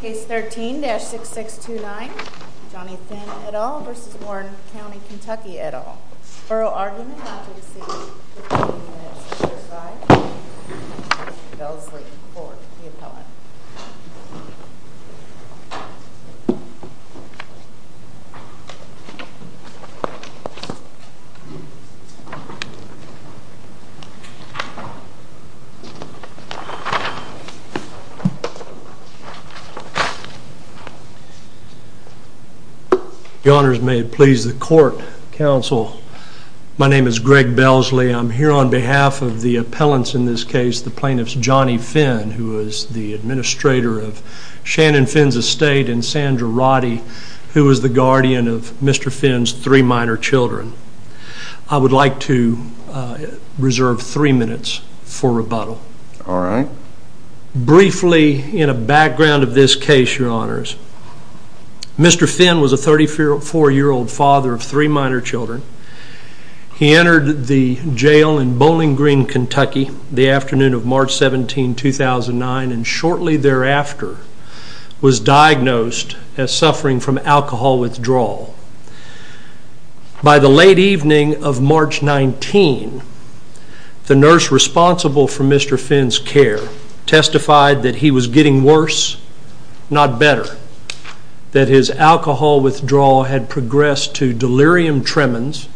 Case 13-6629 Johnny Finn et al. v. Warren County Kentucky et al. Furrow argument not to exceed 15 minutes or so is violated. Bellesley Court, the appellant. The honors may it please the court, counsel. My name is Greg Bellesley, I'm here on behalf of the appellants in this case, the plaintiffs Johnny Finn who is the administrator of Shannon Finn's estate and Sandra Roddy who is the guardian of Mr. Finn's three minor children. I would like to reserve three minutes for rebuttal. Alright. Briefly in a background of this case, your honors, Mr. Finn was a 34 year old father of three minor children. He entered the jail in Bowling Green, Kentucky the afternoon of March 17, 2009 and shortly thereafter was diagnosed as suffering from alcohol withdrawal. By the late evening of March 19, the nurse responsible for Mr. Finn's care testified that he was getting worse, not better. That his alcohol withdrawal had progressed to delirium tremens,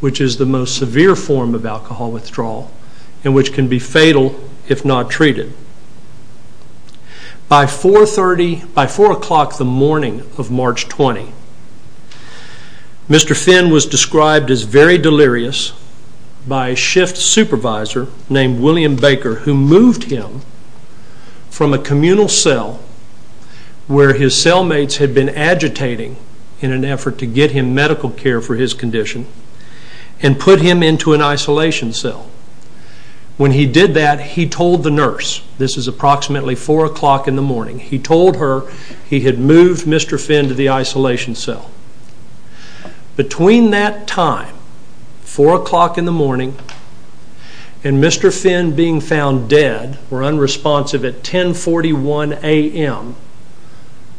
which is the most severe form of alcohol withdrawal and which can be fatal if not treated. By 4 o'clock the morning of March 20, Mr. Finn was described as very delirious by a shift supervisor named William Baker who moved him from a communal cell where his cellmates had been agitating in an effort to get him medical care for his condition and put him into an isolation cell. When he did that, he told the nurse, this is approximately 4 o'clock in the morning, he told her he had moved Mr. Finn to the isolation cell. Between that time, 4 o'clock in the morning, and Mr. Finn being found dead or unresponsive at 10.41 a.m.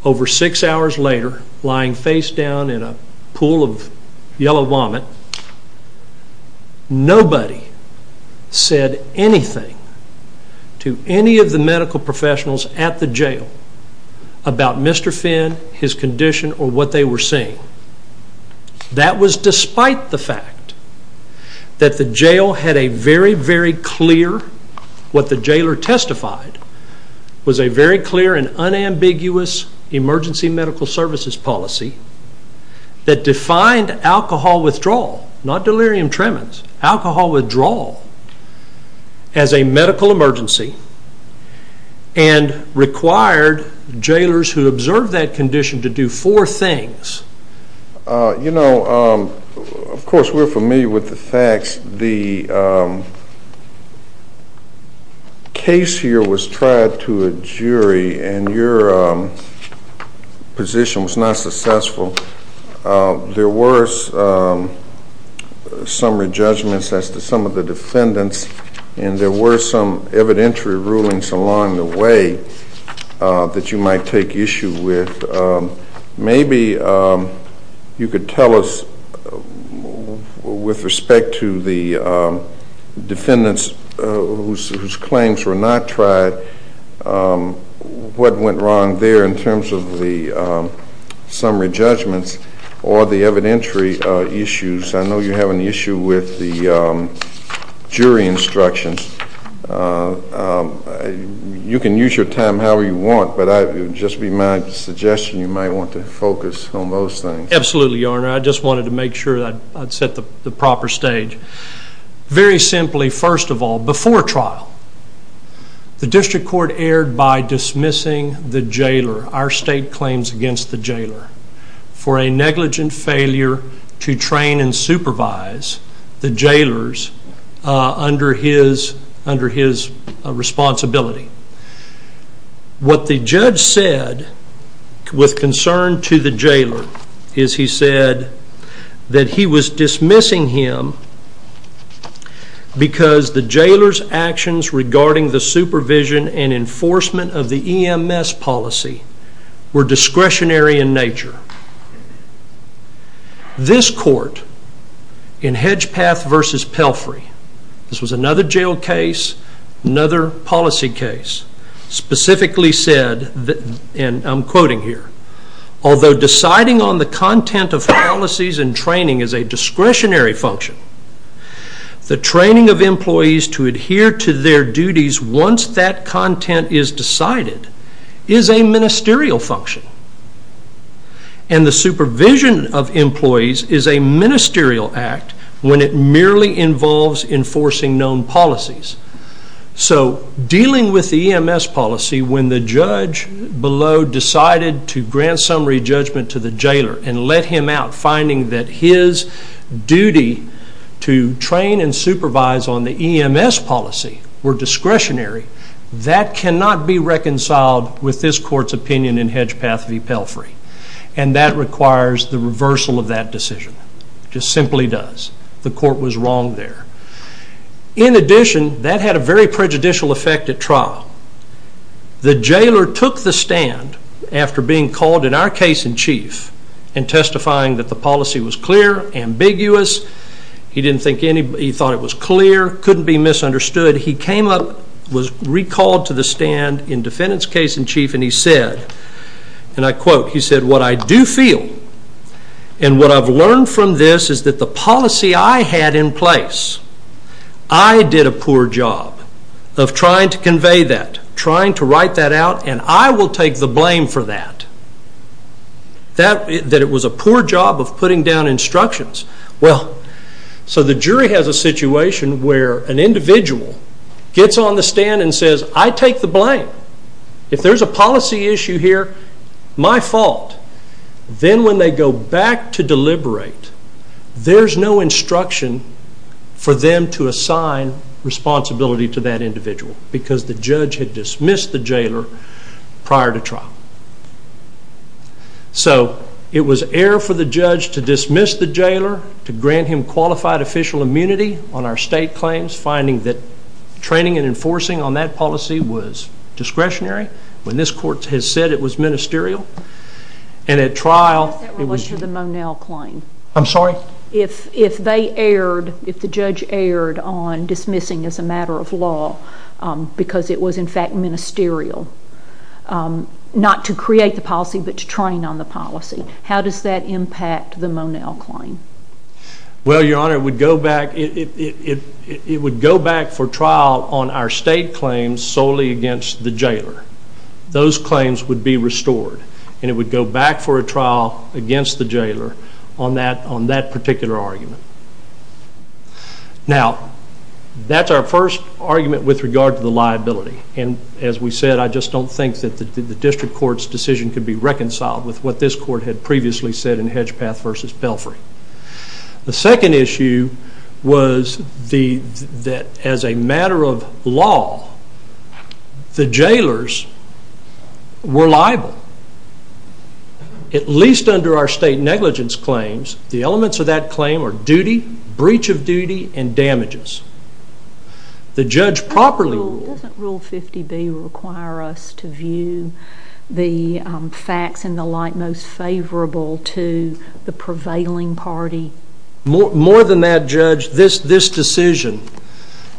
over six hours later lying face down in a pool of yellow vomit, nobody said anything to any of the medical professionals at the jail about Mr. Finn, his condition or what they were seeing. That was despite the fact that the jail had a very, very clear, what the jailor testified was a very clear and unambiguous emergency medical services policy that defined alcohol withdrawal, not delirium tremens, alcohol withdrawal as a medical emergency and required jailors who observed that condition to do four things. You know, of course we're familiar with the facts, the case here was tried to a jury and your position was not successful. There were some re-judgments as to some of the defendants and there were some evidentiary rulings along the way that you might take issue with. Maybe you could tell us with respect to the defendants whose claims were not tried what went wrong there in terms of the summary judgments or the evidentiary issues. I know you have an issue with the jury instructions. You can use your time however you want, but it would just be my suggestion you might want to focus on those things. Absolutely, Your Honor. I just wanted to make sure that I'd set the proper stage. Very simply, first of all, before trial the district court erred by dismissing the jailor, our state claims against the jailor, for a negligent failure to train and supervise the jailors under his responsibility. What the judge said with concern to the jailor is he said that he was dismissing him because the jailor's actions regarding the supervision and enforcement of the EMS policy were discretionary in nature. This court in Hedgepath v. Pelfrey, this was another jail case, another policy case, specifically said, and I'm quoting here, although deciding on the content of policies and training is a discretionary function, the training of employees to adhere to their duties once that content is decided is a ministerial function, and the supervision of employees is a ministerial act when it merely involves enforcing known policies. So dealing with the EMS policy when the judge below decided to grant summary judgment to the jailor and let him out finding that his duty to train and supervise on the EMS policy were discretionary, that cannot be reconciled with this court's opinion in Hedgepath v. Pelfrey, and that requires the reversal of that decision, it just simply does. The court was wrong there. In addition, that had a very prejudicial effect at trial. The jailor took the stand after being called in our case in chief and testifying that the policy was clear, ambiguous, he thought it was clear, couldn't be misunderstood. He came up, was recalled to the stand in defendant's case in chief and he said, and I quote, he said, what I do feel and what I've learned from this is that the policy I had in place, I did a poor job of trying to convey that, trying to write that out, and I will take the blame for that. That it was a poor job of putting down instructions. So the jury has a situation where an individual gets on the stand and says, I take the blame. If there's a policy issue here, my fault. Then when they go back to deliberate, there's no instruction for them to assign responsibility to that individual because the judge had dismissed the jailor prior to trial. So it was error for the judge to dismiss the jailor, to grant him qualified official immunity on our state claims, finding that training and enforcing on that policy was discretionary when this court has said it was ministerial and at trial it was. What if that was for the Monel claim? I'm sorry? If they erred, if the judge erred on dismissing as a matter of law because it was in fact ministerial, not to create the policy but to train on the policy, how does that impact the Monel claim? Well your honor, it would go back for trial on our state claims solely against the jailor. Those claims would be restored and it would go back for a trial against the jailor on that particular argument. Now that's our first argument with regard to the liability and as we said, I just don't think that the district court's decision could be reconciled with what this court had previously said in Hedgepath v. Pelfrey. The second issue was that as a matter of law, the jailors were liable. At least under our state negligence claims, the elements of that claim are duty, breach of duty, and damages. The judge properly ruled... More than that judge, this decision,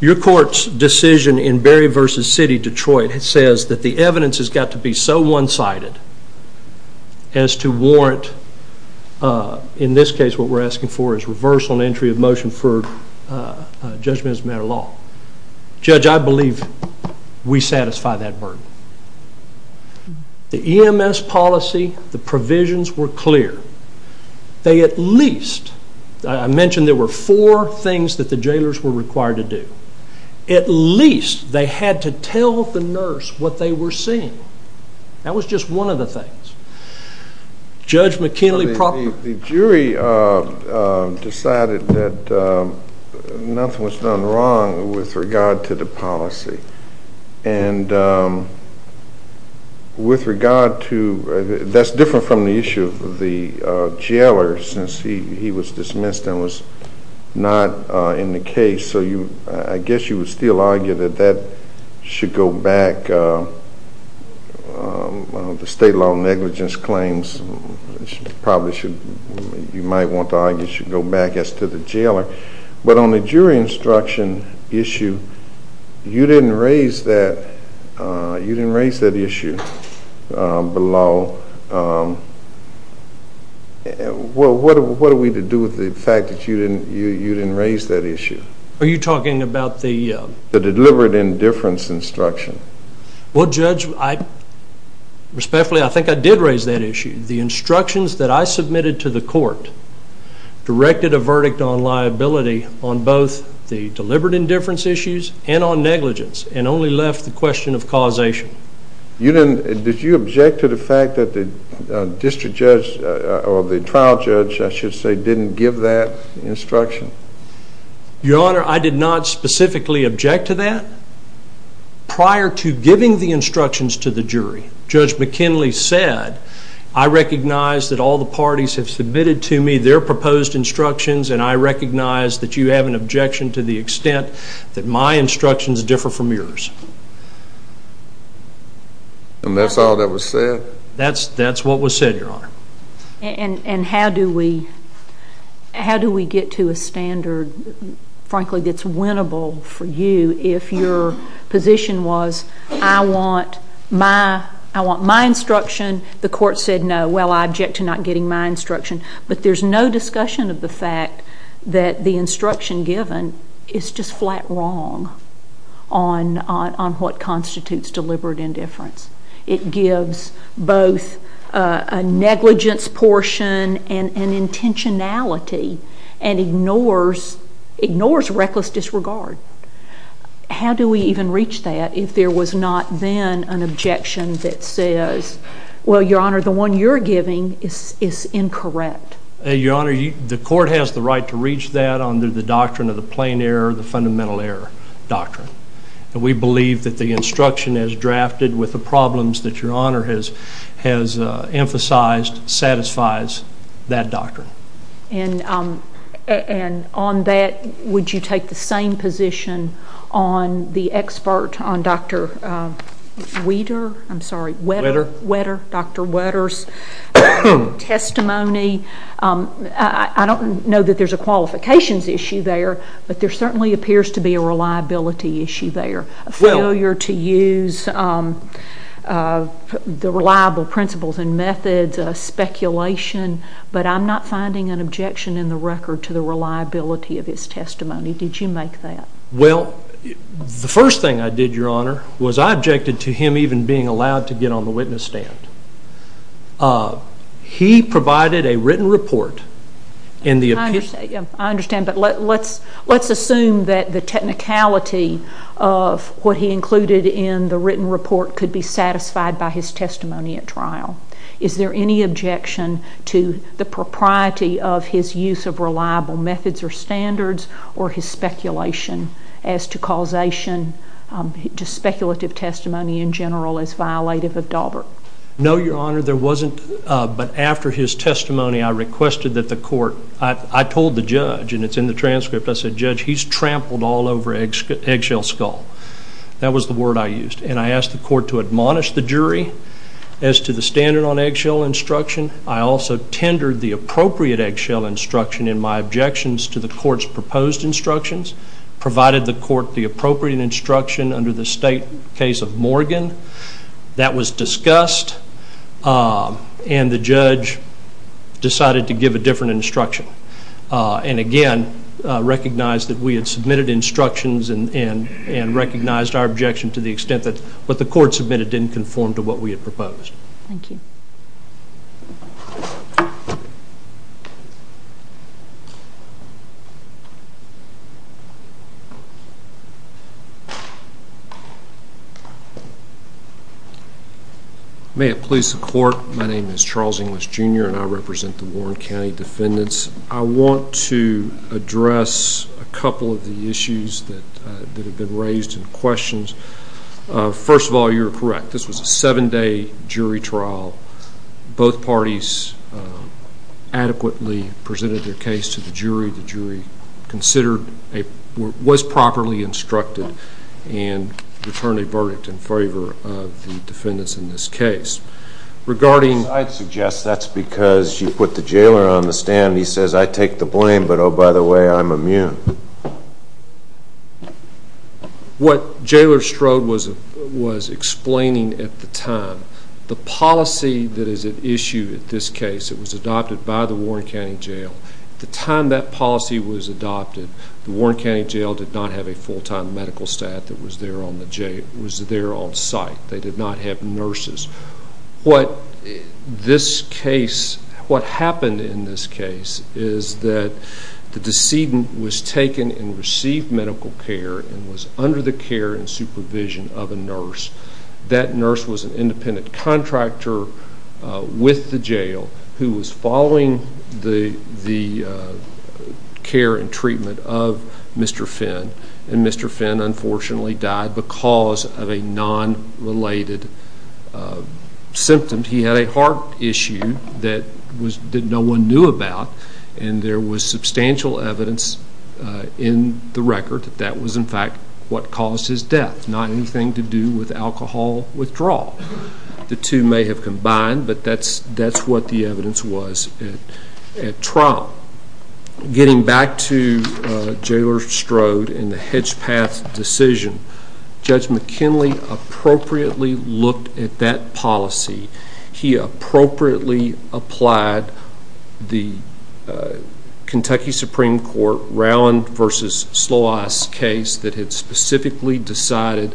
your court's decision in Berry v. City Detroit says that the evidence has got to be so one-sided as to warrant, in this case what we're asking for is reversal and entry of motion for judgment as a matter of law. Judge I believe we satisfy that burden. The EMS policy, the provisions were clear. They at least, I mentioned there were four things that the jailors were required to do. At least they had to tell the nurse what they were seeing. That was just one of the things. Judge McKinley properly... The jury decided that nothing was done wrong with regard to the policy and with regard to... That's different from the issue of the jailor since he was dismissed and was not in the case. I guess you would still argue that that should go back, the state law negligence claims probably should... You might want to argue it should go back as to the jailor. But on the jury instruction issue, you didn't raise that issue below. What are we to do with the fact that you didn't raise that issue? Are you talking about the... The deliberate indifference instruction. Well Judge, respectfully I think I did raise that issue. The instructions that I submitted to the court directed a verdict on liability on both the deliberate indifference issues and on negligence and only left the question of causation. Did you object to the fact that the district judge or the trial judge, I should say, didn't give that instruction? Your Honor, I did not specifically object to that. Prior to giving the instructions to the jury, Judge McKinley said, I recognize that all the parties have submitted to me their proposed instructions and I recognize that you have an objection to the extent that my instructions differ from yours. And that's all that was said? That's what was said, Your Honor. And how do we get to a standard, frankly, that's winnable for you if your position was, I want my instruction, the court said no, well I object to not getting my instruction. But there's no discussion of the fact that the instruction given is just flat wrong on what constitutes deliberate indifference. It gives both a negligence portion and intentionality and ignores reckless disregard. How do we even reach that if there was not then an objection that says, well, Your Honor, the one you're giving is incorrect? Your Honor, the court has the right to reach that under the doctrine of the plain error of the fundamental error doctrine. We believe that the instruction as drafted with the problems that Your Honor has emphasized satisfies that doctrine. And on that, would you take the same position on the expert, on Dr. Wetter's testimony? I don't know that there's a qualifications issue there, but there certainly appears to be a reliability issue there, a failure to use the reliable principles and methods, speculation. But I'm not finding an objection in the record to the reliability of his testimony. Did you make that? Well, the first thing I did, Your Honor, was I objected to him even being allowed to get on the witness stand. He provided a written report in the opinion. I understand, but let's assume that the technicality of what he included in the written report could be satisfied by his testimony at trial. Is there any objection to the propriety of his use of reliable methods or standards or his speculation as to causation, to speculative testimony in general as violative of Daubert? No, Your Honor, there wasn't. But after his testimony, I requested that the court, I told the judge, and it's in the transcript, I said, Judge, he's trampled all over eggshell skull. That was the word I used. And I asked the court to admonish the jury as to the standard on eggshell instruction. I also tendered the appropriate eggshell instruction in my objections to the court's proposed instructions, provided the court the appropriate instruction under the state case of Morgan. That was discussed, and the judge decided to give a different instruction, and again, recognized that we had submitted instructions and recognized our objection to the extent that what the court submitted didn't conform to what we had proposed. Thank you. May it please the court, my name is Charles English, Jr., and I represent the Warren County defendants. I want to address a couple of the issues that have been raised in questions. First of all, you're correct. This was a seven-day jury trial. Both parties adequately presented their case to the jury. The jury was properly instructed and returned a verdict in favor of the defendants in this case. I suggest that's because you put the jailer on the stand, and he says, I take the blame, but oh, by the way, I'm immune. What Jailer Strode was explaining at the time, the policy that is at issue at this case that was adopted by the Warren County Jail, at the time that policy was adopted, the Warren County Jail did not have a full-time medical staff that was there on site. They did not have nurses. What happened in this case is that the decedent was taken and received medical care and was under the care and supervision of a nurse. That nurse was an independent contractor with the jail who was following the care and treatment of Mr. Finn, and Mr. Finn unfortunately died because of a non-related symptom. He had a heart issue that no one knew about, and there was substantial evidence in the withdrawal. The two may have combined, but that's what the evidence was at trial. Getting back to Jailer Strode and the Hedgepath decision, Judge McKinley appropriately looked at that policy. He appropriately applied the Kentucky Supreme Court Rowan v. Slois case that had specifically decided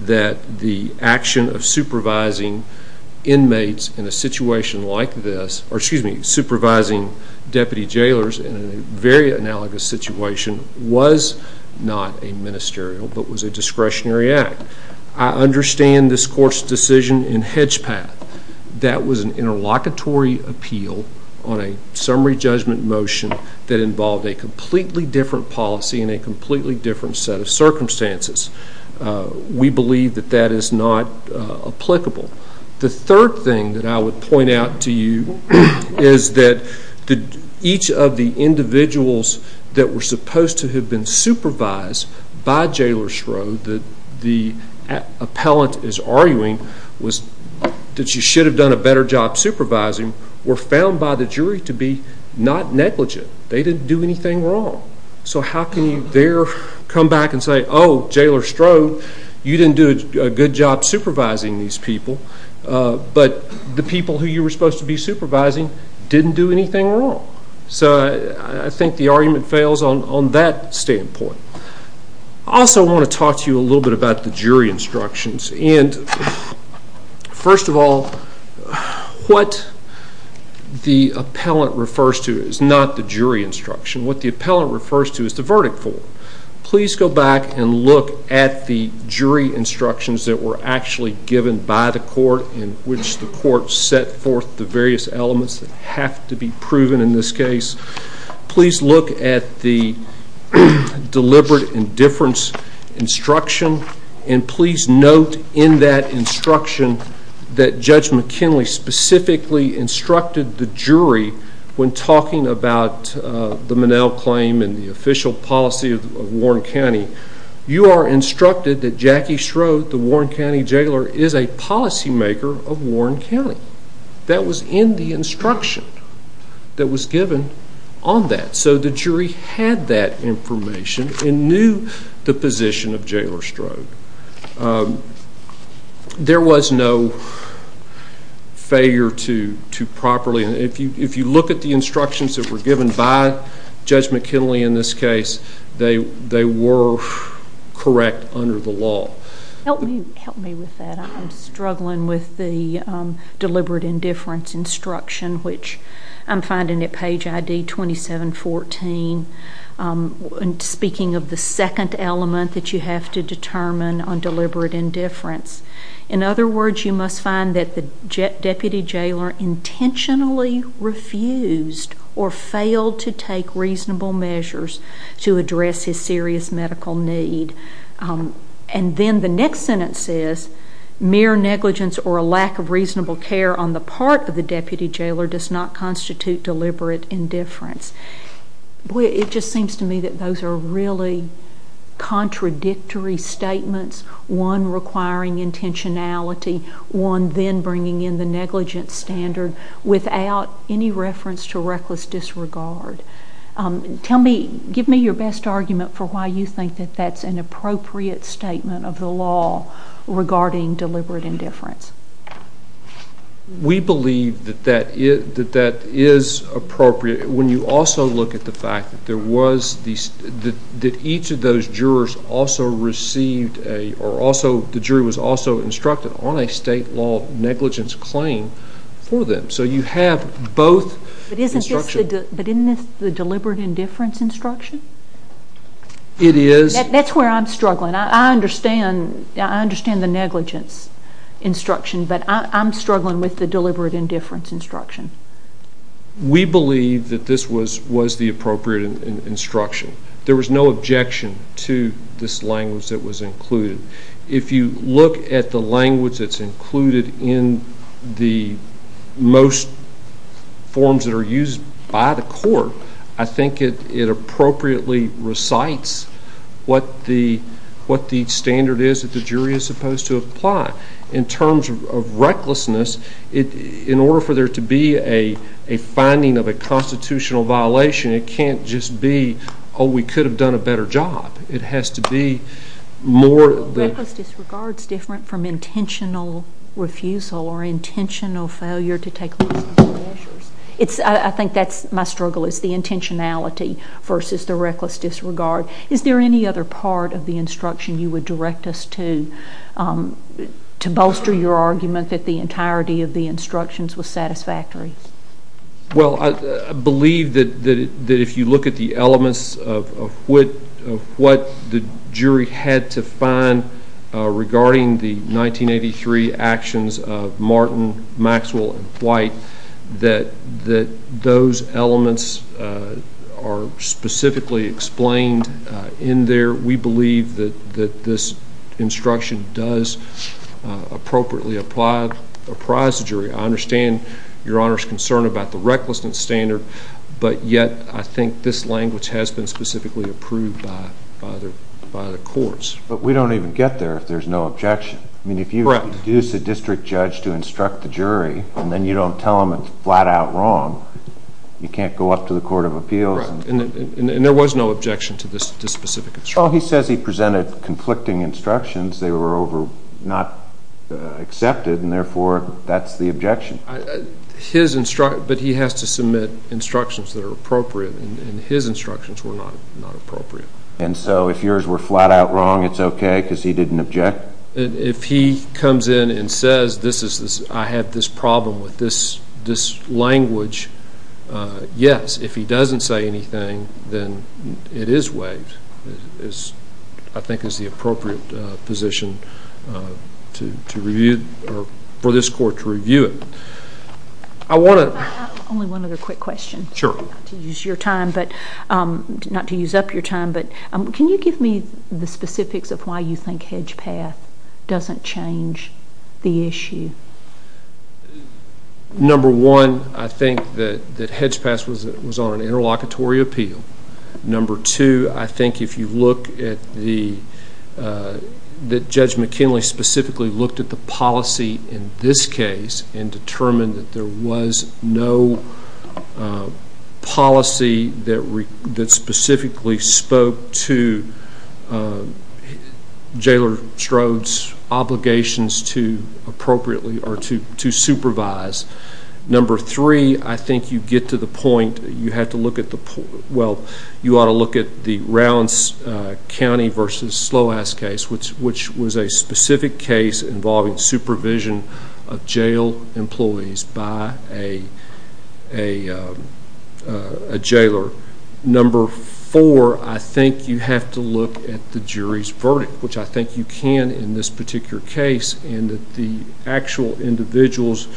that the action of supervising inmates in a situation like this, or excuse me, supervising deputy jailers in a very analogous situation, was not a ministerial but was a discretionary act. I understand this court's decision in Hedgepath. That was an interlocutory appeal on a summary judgment motion that involved a completely different policy and a completely different set of circumstances. We believe that that is not applicable. The third thing that I would point out to you is that each of the individuals that were supposed to have been supervised by Jailer Strode, that the appellant is arguing that you should have done a better job supervising, were found by the jury to be not negligent. They didn't do anything wrong. So how can you there come back and say, oh, Jailer Strode, you didn't do a good job supervising these people, but the people who you were supposed to be supervising didn't do anything wrong. So I think the argument fails on that standpoint. I also want to talk to you a little bit about the jury instructions. And first of all, what the appellant refers to is not the jury instruction. What the appellant refers to is the verdict form. Please go back and look at the jury instructions that were actually given by the court in which the court set forth the various elements that have to be proven in this case. Please look at the deliberate indifference instruction, and please note in that instruction that Judge McKinley specifically instructed the jury when talking about the Monell claim and the official policy of Warren County. You are instructed that Jackie Strode, the Warren County Jailer, is a policymaker of Warren County. That was in the instruction that was given on that. So the jury had that information and knew the position of Jailer Strode. There was no failure to properly, and if you look at the instructions that were given by Judge McKinley in this case, they were correct under the law. Help me with that. I'm struggling with the deliberate indifference instruction, which I'm finding at page ID 2714, speaking of the second element that you have to determine on deliberate indifference. In other words, you must find that the deputy jailer intentionally refused or failed to take reasonable measures to address his serious medical need. And then the next sentence is, mere negligence or a lack of reasonable care on the part of the deputy jailer does not constitute deliberate indifference. It just seems to me that those are really contradictory statements, one requiring intentionality, one then bringing in the negligence standard without any reference to reckless disregard. Tell me, give me your best argument for why you think that that's an appropriate statement of the law regarding deliberate indifference. We believe that that is appropriate when you also look at the fact that there was, that each of those jurors also received a, or also, the jury was also instructed on a state law negligence claim for them. So you have both instructions. But isn't this the deliberate indifference instruction? It is. That's where I'm struggling. I understand the negligence instruction, but I'm struggling with the deliberate indifference instruction. We believe that this was the appropriate instruction. There was no objection to this language that was included. If you look at the language that's included in the most forms that are used by the court, I think it appropriately recites what the standard is that the jury is supposed to apply. In terms of recklessness, in order for there to be a finding of a constitutional violation, it can't just be, oh, we could have done a better job. It has to be more of the... Reckless disregard is different from intentional refusal or intentional failure to take legal measures. It's, I think that's my struggle, is the intentionality versus the reckless disregard. Is there any other part of the instruction you would direct us to, to bolster your argument that the entirety of the instructions was satisfactory? Well, I believe that if you look at the elements of what the jury had to find regarding the 1983 actions of Martin, Maxwell, and White, that those elements are specifically explained in there. We believe that this instruction does appropriately apprise the jury. I understand Your Honor's concern about the recklessness standard, but yet I think this language has been specifically approved by the courts. But we don't even get there if there's no objection. Correct. I mean, if you use a district judge to instruct the jury, and then you don't tell them it's flat out wrong, you can't go up to the Court of Appeals. Correct. And there was no objection to this specific instruction. Well, he says he presented conflicting instructions. They were not accepted, and therefore, that's the objection. But he has to submit instructions that are appropriate, and his instructions were not appropriate. And so, if yours were flat out wrong, it's okay because he didn't object? If he comes in and says, I have this problem with this language, yes, if he doesn't say anything, then it is waived, I think is the appropriate position for this court to review it. Only one other quick question, not to use up your time, but can you give me the specifics of why you think Hedge Path doesn't change the issue? Well, number one, I think that Hedge Path was on an interlocutory appeal. Number two, I think if you look at the, Judge McKinley specifically looked at the policy in this case and determined that there was no policy that specifically spoke to Jailer Strode's obligations to appropriately, or to supervise. Number three, I think you get to the point, you have to look at the, well, you ought to look at the Rounds County versus Sloas case, which was a specific case involving supervision of jail employees by a jailer. Number four, I think you have to look at the jury's verdict, which I think you can in this particular case, and that the actual individuals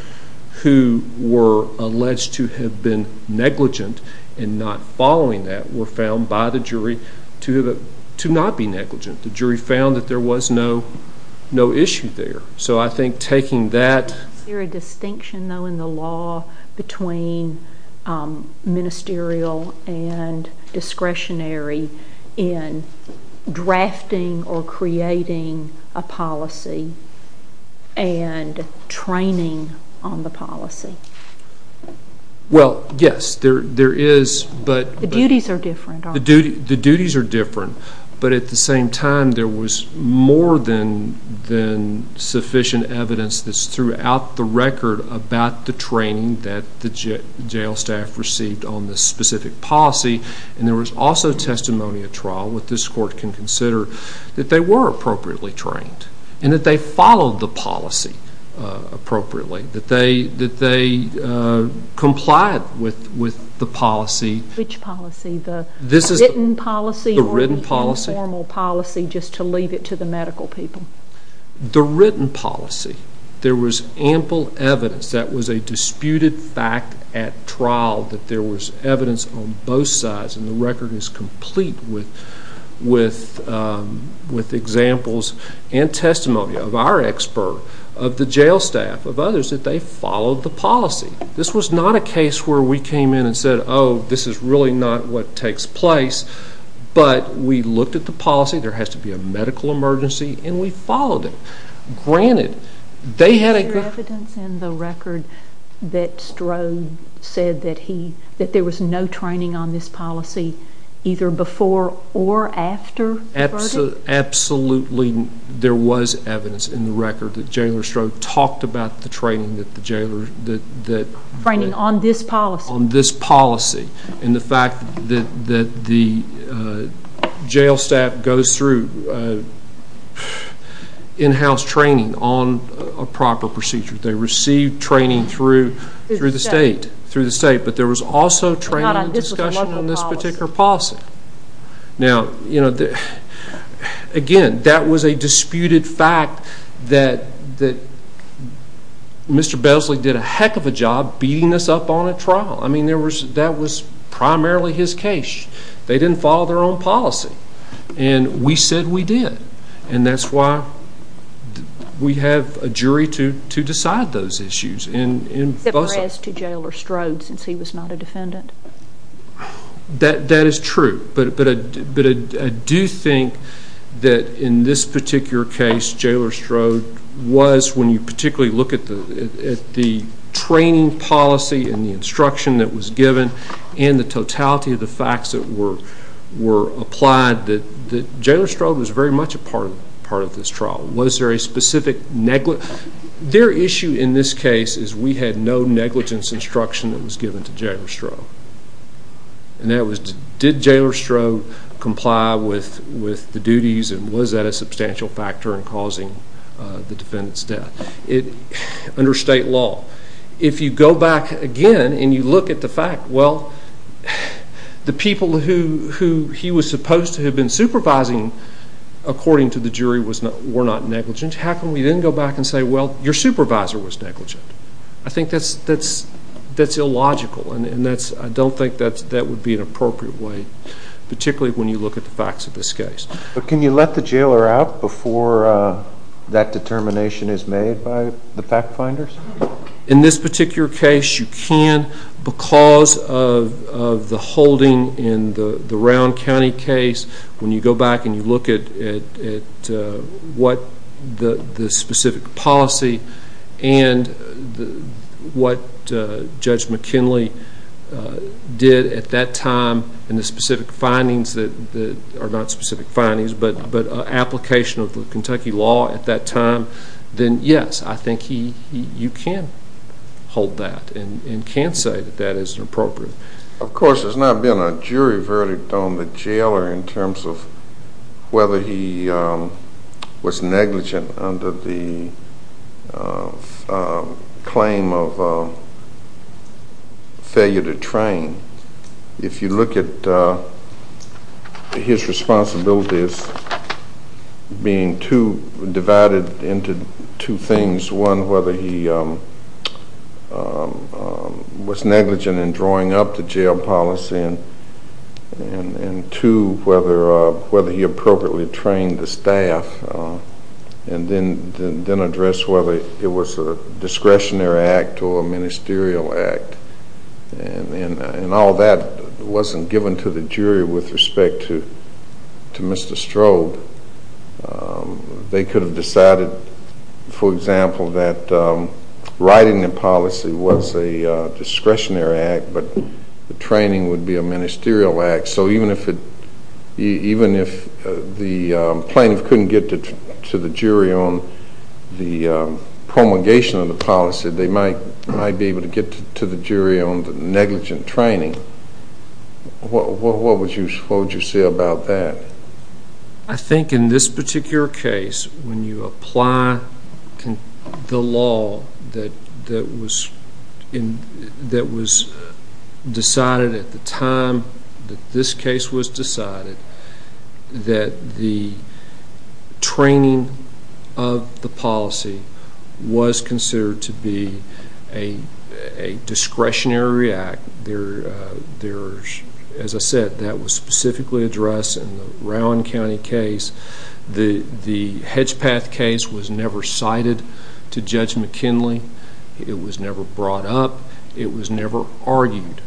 who were alleged to have been negligent in not following that were found by the jury to not be negligent. The jury found that there was no issue there. So I think taking that- Is there a distinction though in the law between ministerial and discretionary in drafting or creating a policy and training on the policy? Well, yes, there is, but- The duties are different, aren't they? The duties are different, but at the same time there was more than sufficient evidence that's throughout the record about the training that the jail staff received on this specific policy. And there was also testimony at trial, what this court can consider, that they were appropriately trained and that they followed the policy appropriately, that they complied with the policy. Which policy, the written policy or the informal policy, just to leave it to the medical people? The written policy. There was ample evidence that was a disputed fact at trial, that there was evidence on both sides and the record is complete with examples and testimony of our expert, of the jail staff, of others, that they followed the policy. This was not a case where we came in and said, oh, this is really not what takes place, but we looked at the policy, there has to be a medical emergency, and we followed it. Granted, they had a- Is there evidence in the record that Strode said that there was no training on this policy either before or after the verdict? Absolutely, there was evidence in the record that Jailor Strode talked about the training that the jailor- Training on this policy. on this policy and the fact that the jail staff goes through in-house training on a proper procedure. They receive training through the state, but there was also training and discussion on this particular policy. Now, again, that was a disputed fact that Mr. Besley did a heck of a job beating this up on a trial. I mean, that was primarily his case. They didn't follow their own policy, and we said we did, and that's why we have a jury to decide those issues. Except for as to Jailor Strode, since he was not a defendant. That is true, but I do think that in this particular case, Jailor Strode was, when you particularly look at the training policy and the instruction that was given and the totality of the facts that were applied, that Jailor Strode was very much a part of this trial. Was there a specific negligence? Their issue in this case is we had no negligence instruction that was given to Jailor Strode. Did Jailor Strode comply with the duties, and was that a substantial factor in causing the defendant's death under state law? If you go back again and you look at the fact, well, the people who he was supposed to have been supervising, according to the jury, were not negligent. How can we then go back and say, well, your supervisor was negligent? I think that's illogical, and I don't think that would be an appropriate way, particularly when you look at the facts of this case. Can you let the Jailor out before that determination is made by the fact finders? In this particular case, you can because of the holding in the Round County case. When you go back and you look at the specific policy and what Judge McKinley did at that time, and the specific findings that are not specific findings, but application of the Kentucky law at that time, then yes, I think you can hold that and can say that that isn't appropriate. Of course, there's not been a jury verdict on the Jailor in terms of whether he was negligent under the claim of failure to train. If you look at his responsibilities being divided into two things, one, whether he was negligent in drawing up the Jail policy, and two, whether he appropriately trained the wasn't given to the jury with respect to Mr. Strode. They could have decided, for example, that writing the policy was a discretionary act, but the training would be a ministerial act. So even if the plaintiff couldn't get to the jury on the promulgation of the policy, they might be able to get to the jury on the negligent training. What would you say about that? I think in this particular case, when you apply the law that was decided at the time that this case was decided, that the training of the policy was considered to be a discretionary act. As I said, that was specifically addressed in the Rowan County case. The Hedgepath case was never cited to Judge McKinley. It was never brought up. It was never argued.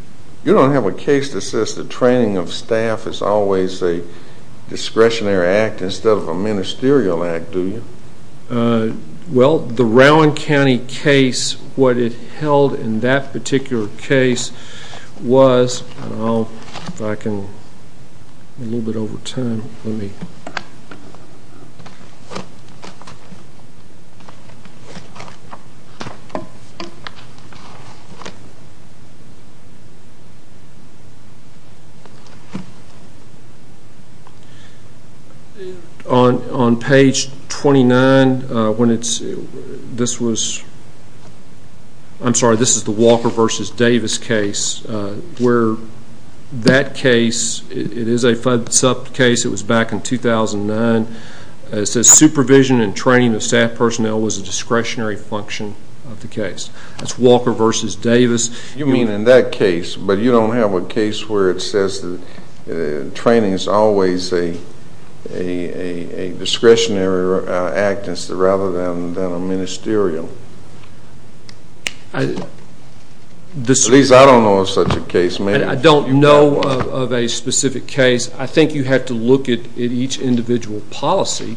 You don't have a case that says the training of staff is always a discretionary act instead of a ministerial act, do you? Well, the Rowan County case, what it held in that particular case was, if I can, a little bit over time. On page 29, this is the Walker v. Davis case. That case, it is a sub-case, it was back in 2009, it says supervision and training of staff personnel was a discretionary function of the case. That's Walker v. Davis. You mean in that case, but you don't have a case where it says that training is always a discretionary act rather than a ministerial? At least I don't know of such a case, ma'am. I don't know of a specific case. I think you have to look at each individual policy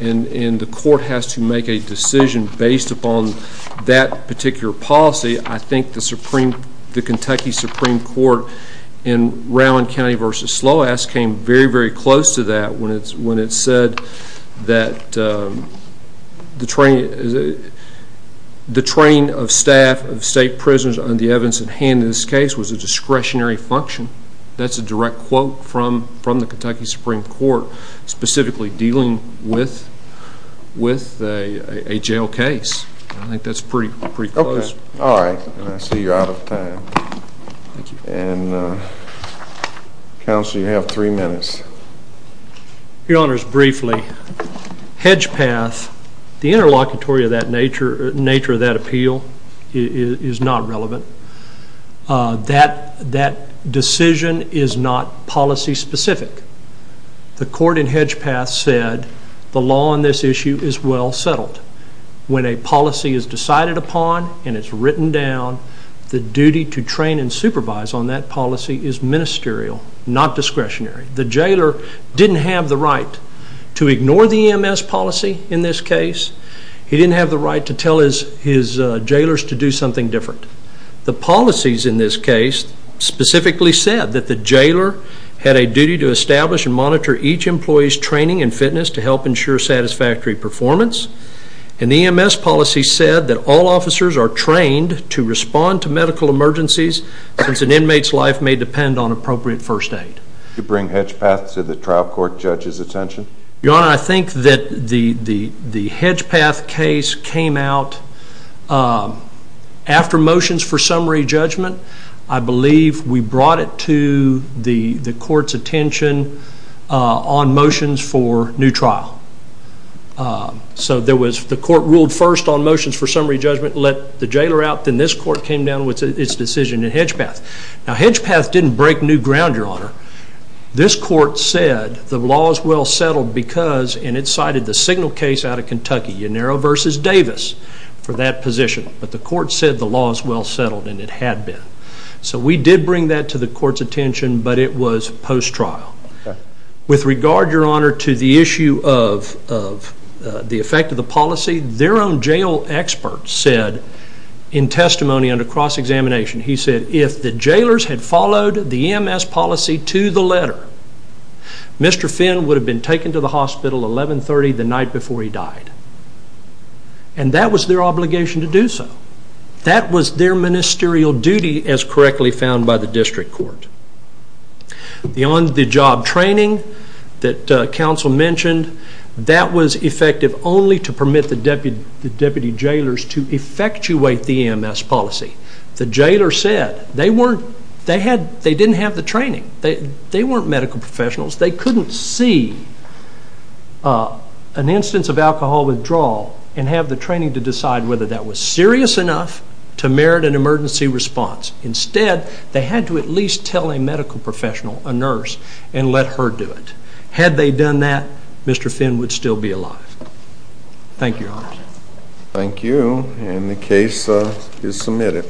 and the court has to make a decision based upon that particular policy. I think the Kentucky Supreme Court in Rowan County v. Sloas came very, very close to that when it said that the training of staff of state prisons on the evidence at hand in this case was a discretionary function. That's a direct quote from the Kentucky Supreme Court specifically dealing with a jail case. I think that's pretty close. Okay. All right. I see you're out of time. Thank you. Counsel, you have three minutes. Your Honors, briefly, the interlocutory nature of that appeal is not relevant. That decision is not policy specific. The court in Hedgepath said the law on this issue is well settled. When a policy is decided upon and it's written down, the duty to train and supervise on that policy is ministerial, not discretionary. The jailer didn't have the right to ignore the EMS policy in this case. He didn't have the right to tell his jailers to do something different. The policies in this case specifically said that the jailer had a duty to establish and the EMS policy said that all officers are trained to respond to medical emergencies since an inmate's life may depend on appropriate first aid. Did you bring Hedgepath to the trial court judge's attention? Your Honor, I think that the Hedgepath case came out after motions for summary judgment. I believe we brought it to the court's attention on motions for new trial. So, the court ruled first on motions for summary judgment, let the jailer out, then this court came down with its decision in Hedgepath. Now, Hedgepath didn't break new ground, Your Honor. This court said the law is well settled because, and it cited the signal case out of Kentucky, Yanero v. Davis, for that position, but the court said the law is well settled and it had been. So, we did bring that to the court's attention, but it was post-trial. With regard, Your Honor, to the issue of the effect of the policy, their own jail expert said in testimony under cross-examination, he said if the jailers had followed the EMS policy to the letter, Mr. Finn would have been taken to the hospital 1130 the night before he died. And that was their obligation to do so. That was their ministerial duty as correctly found by the district court. The on-the-job training that counsel mentioned, that was effective only to permit the deputy jailers to effectuate the EMS policy. The jailer said they didn't have the training. They weren't medical professionals. They couldn't see an instance of alcohol withdrawal and have the training to decide whether that was serious enough to merit an emergency response. Instead, they had to at least tell a medical professional, a nurse, and let her do it. Had they done that, Mr. Finn would still be alive. Thank you, Your Honor. Thank you. And the case is submitted.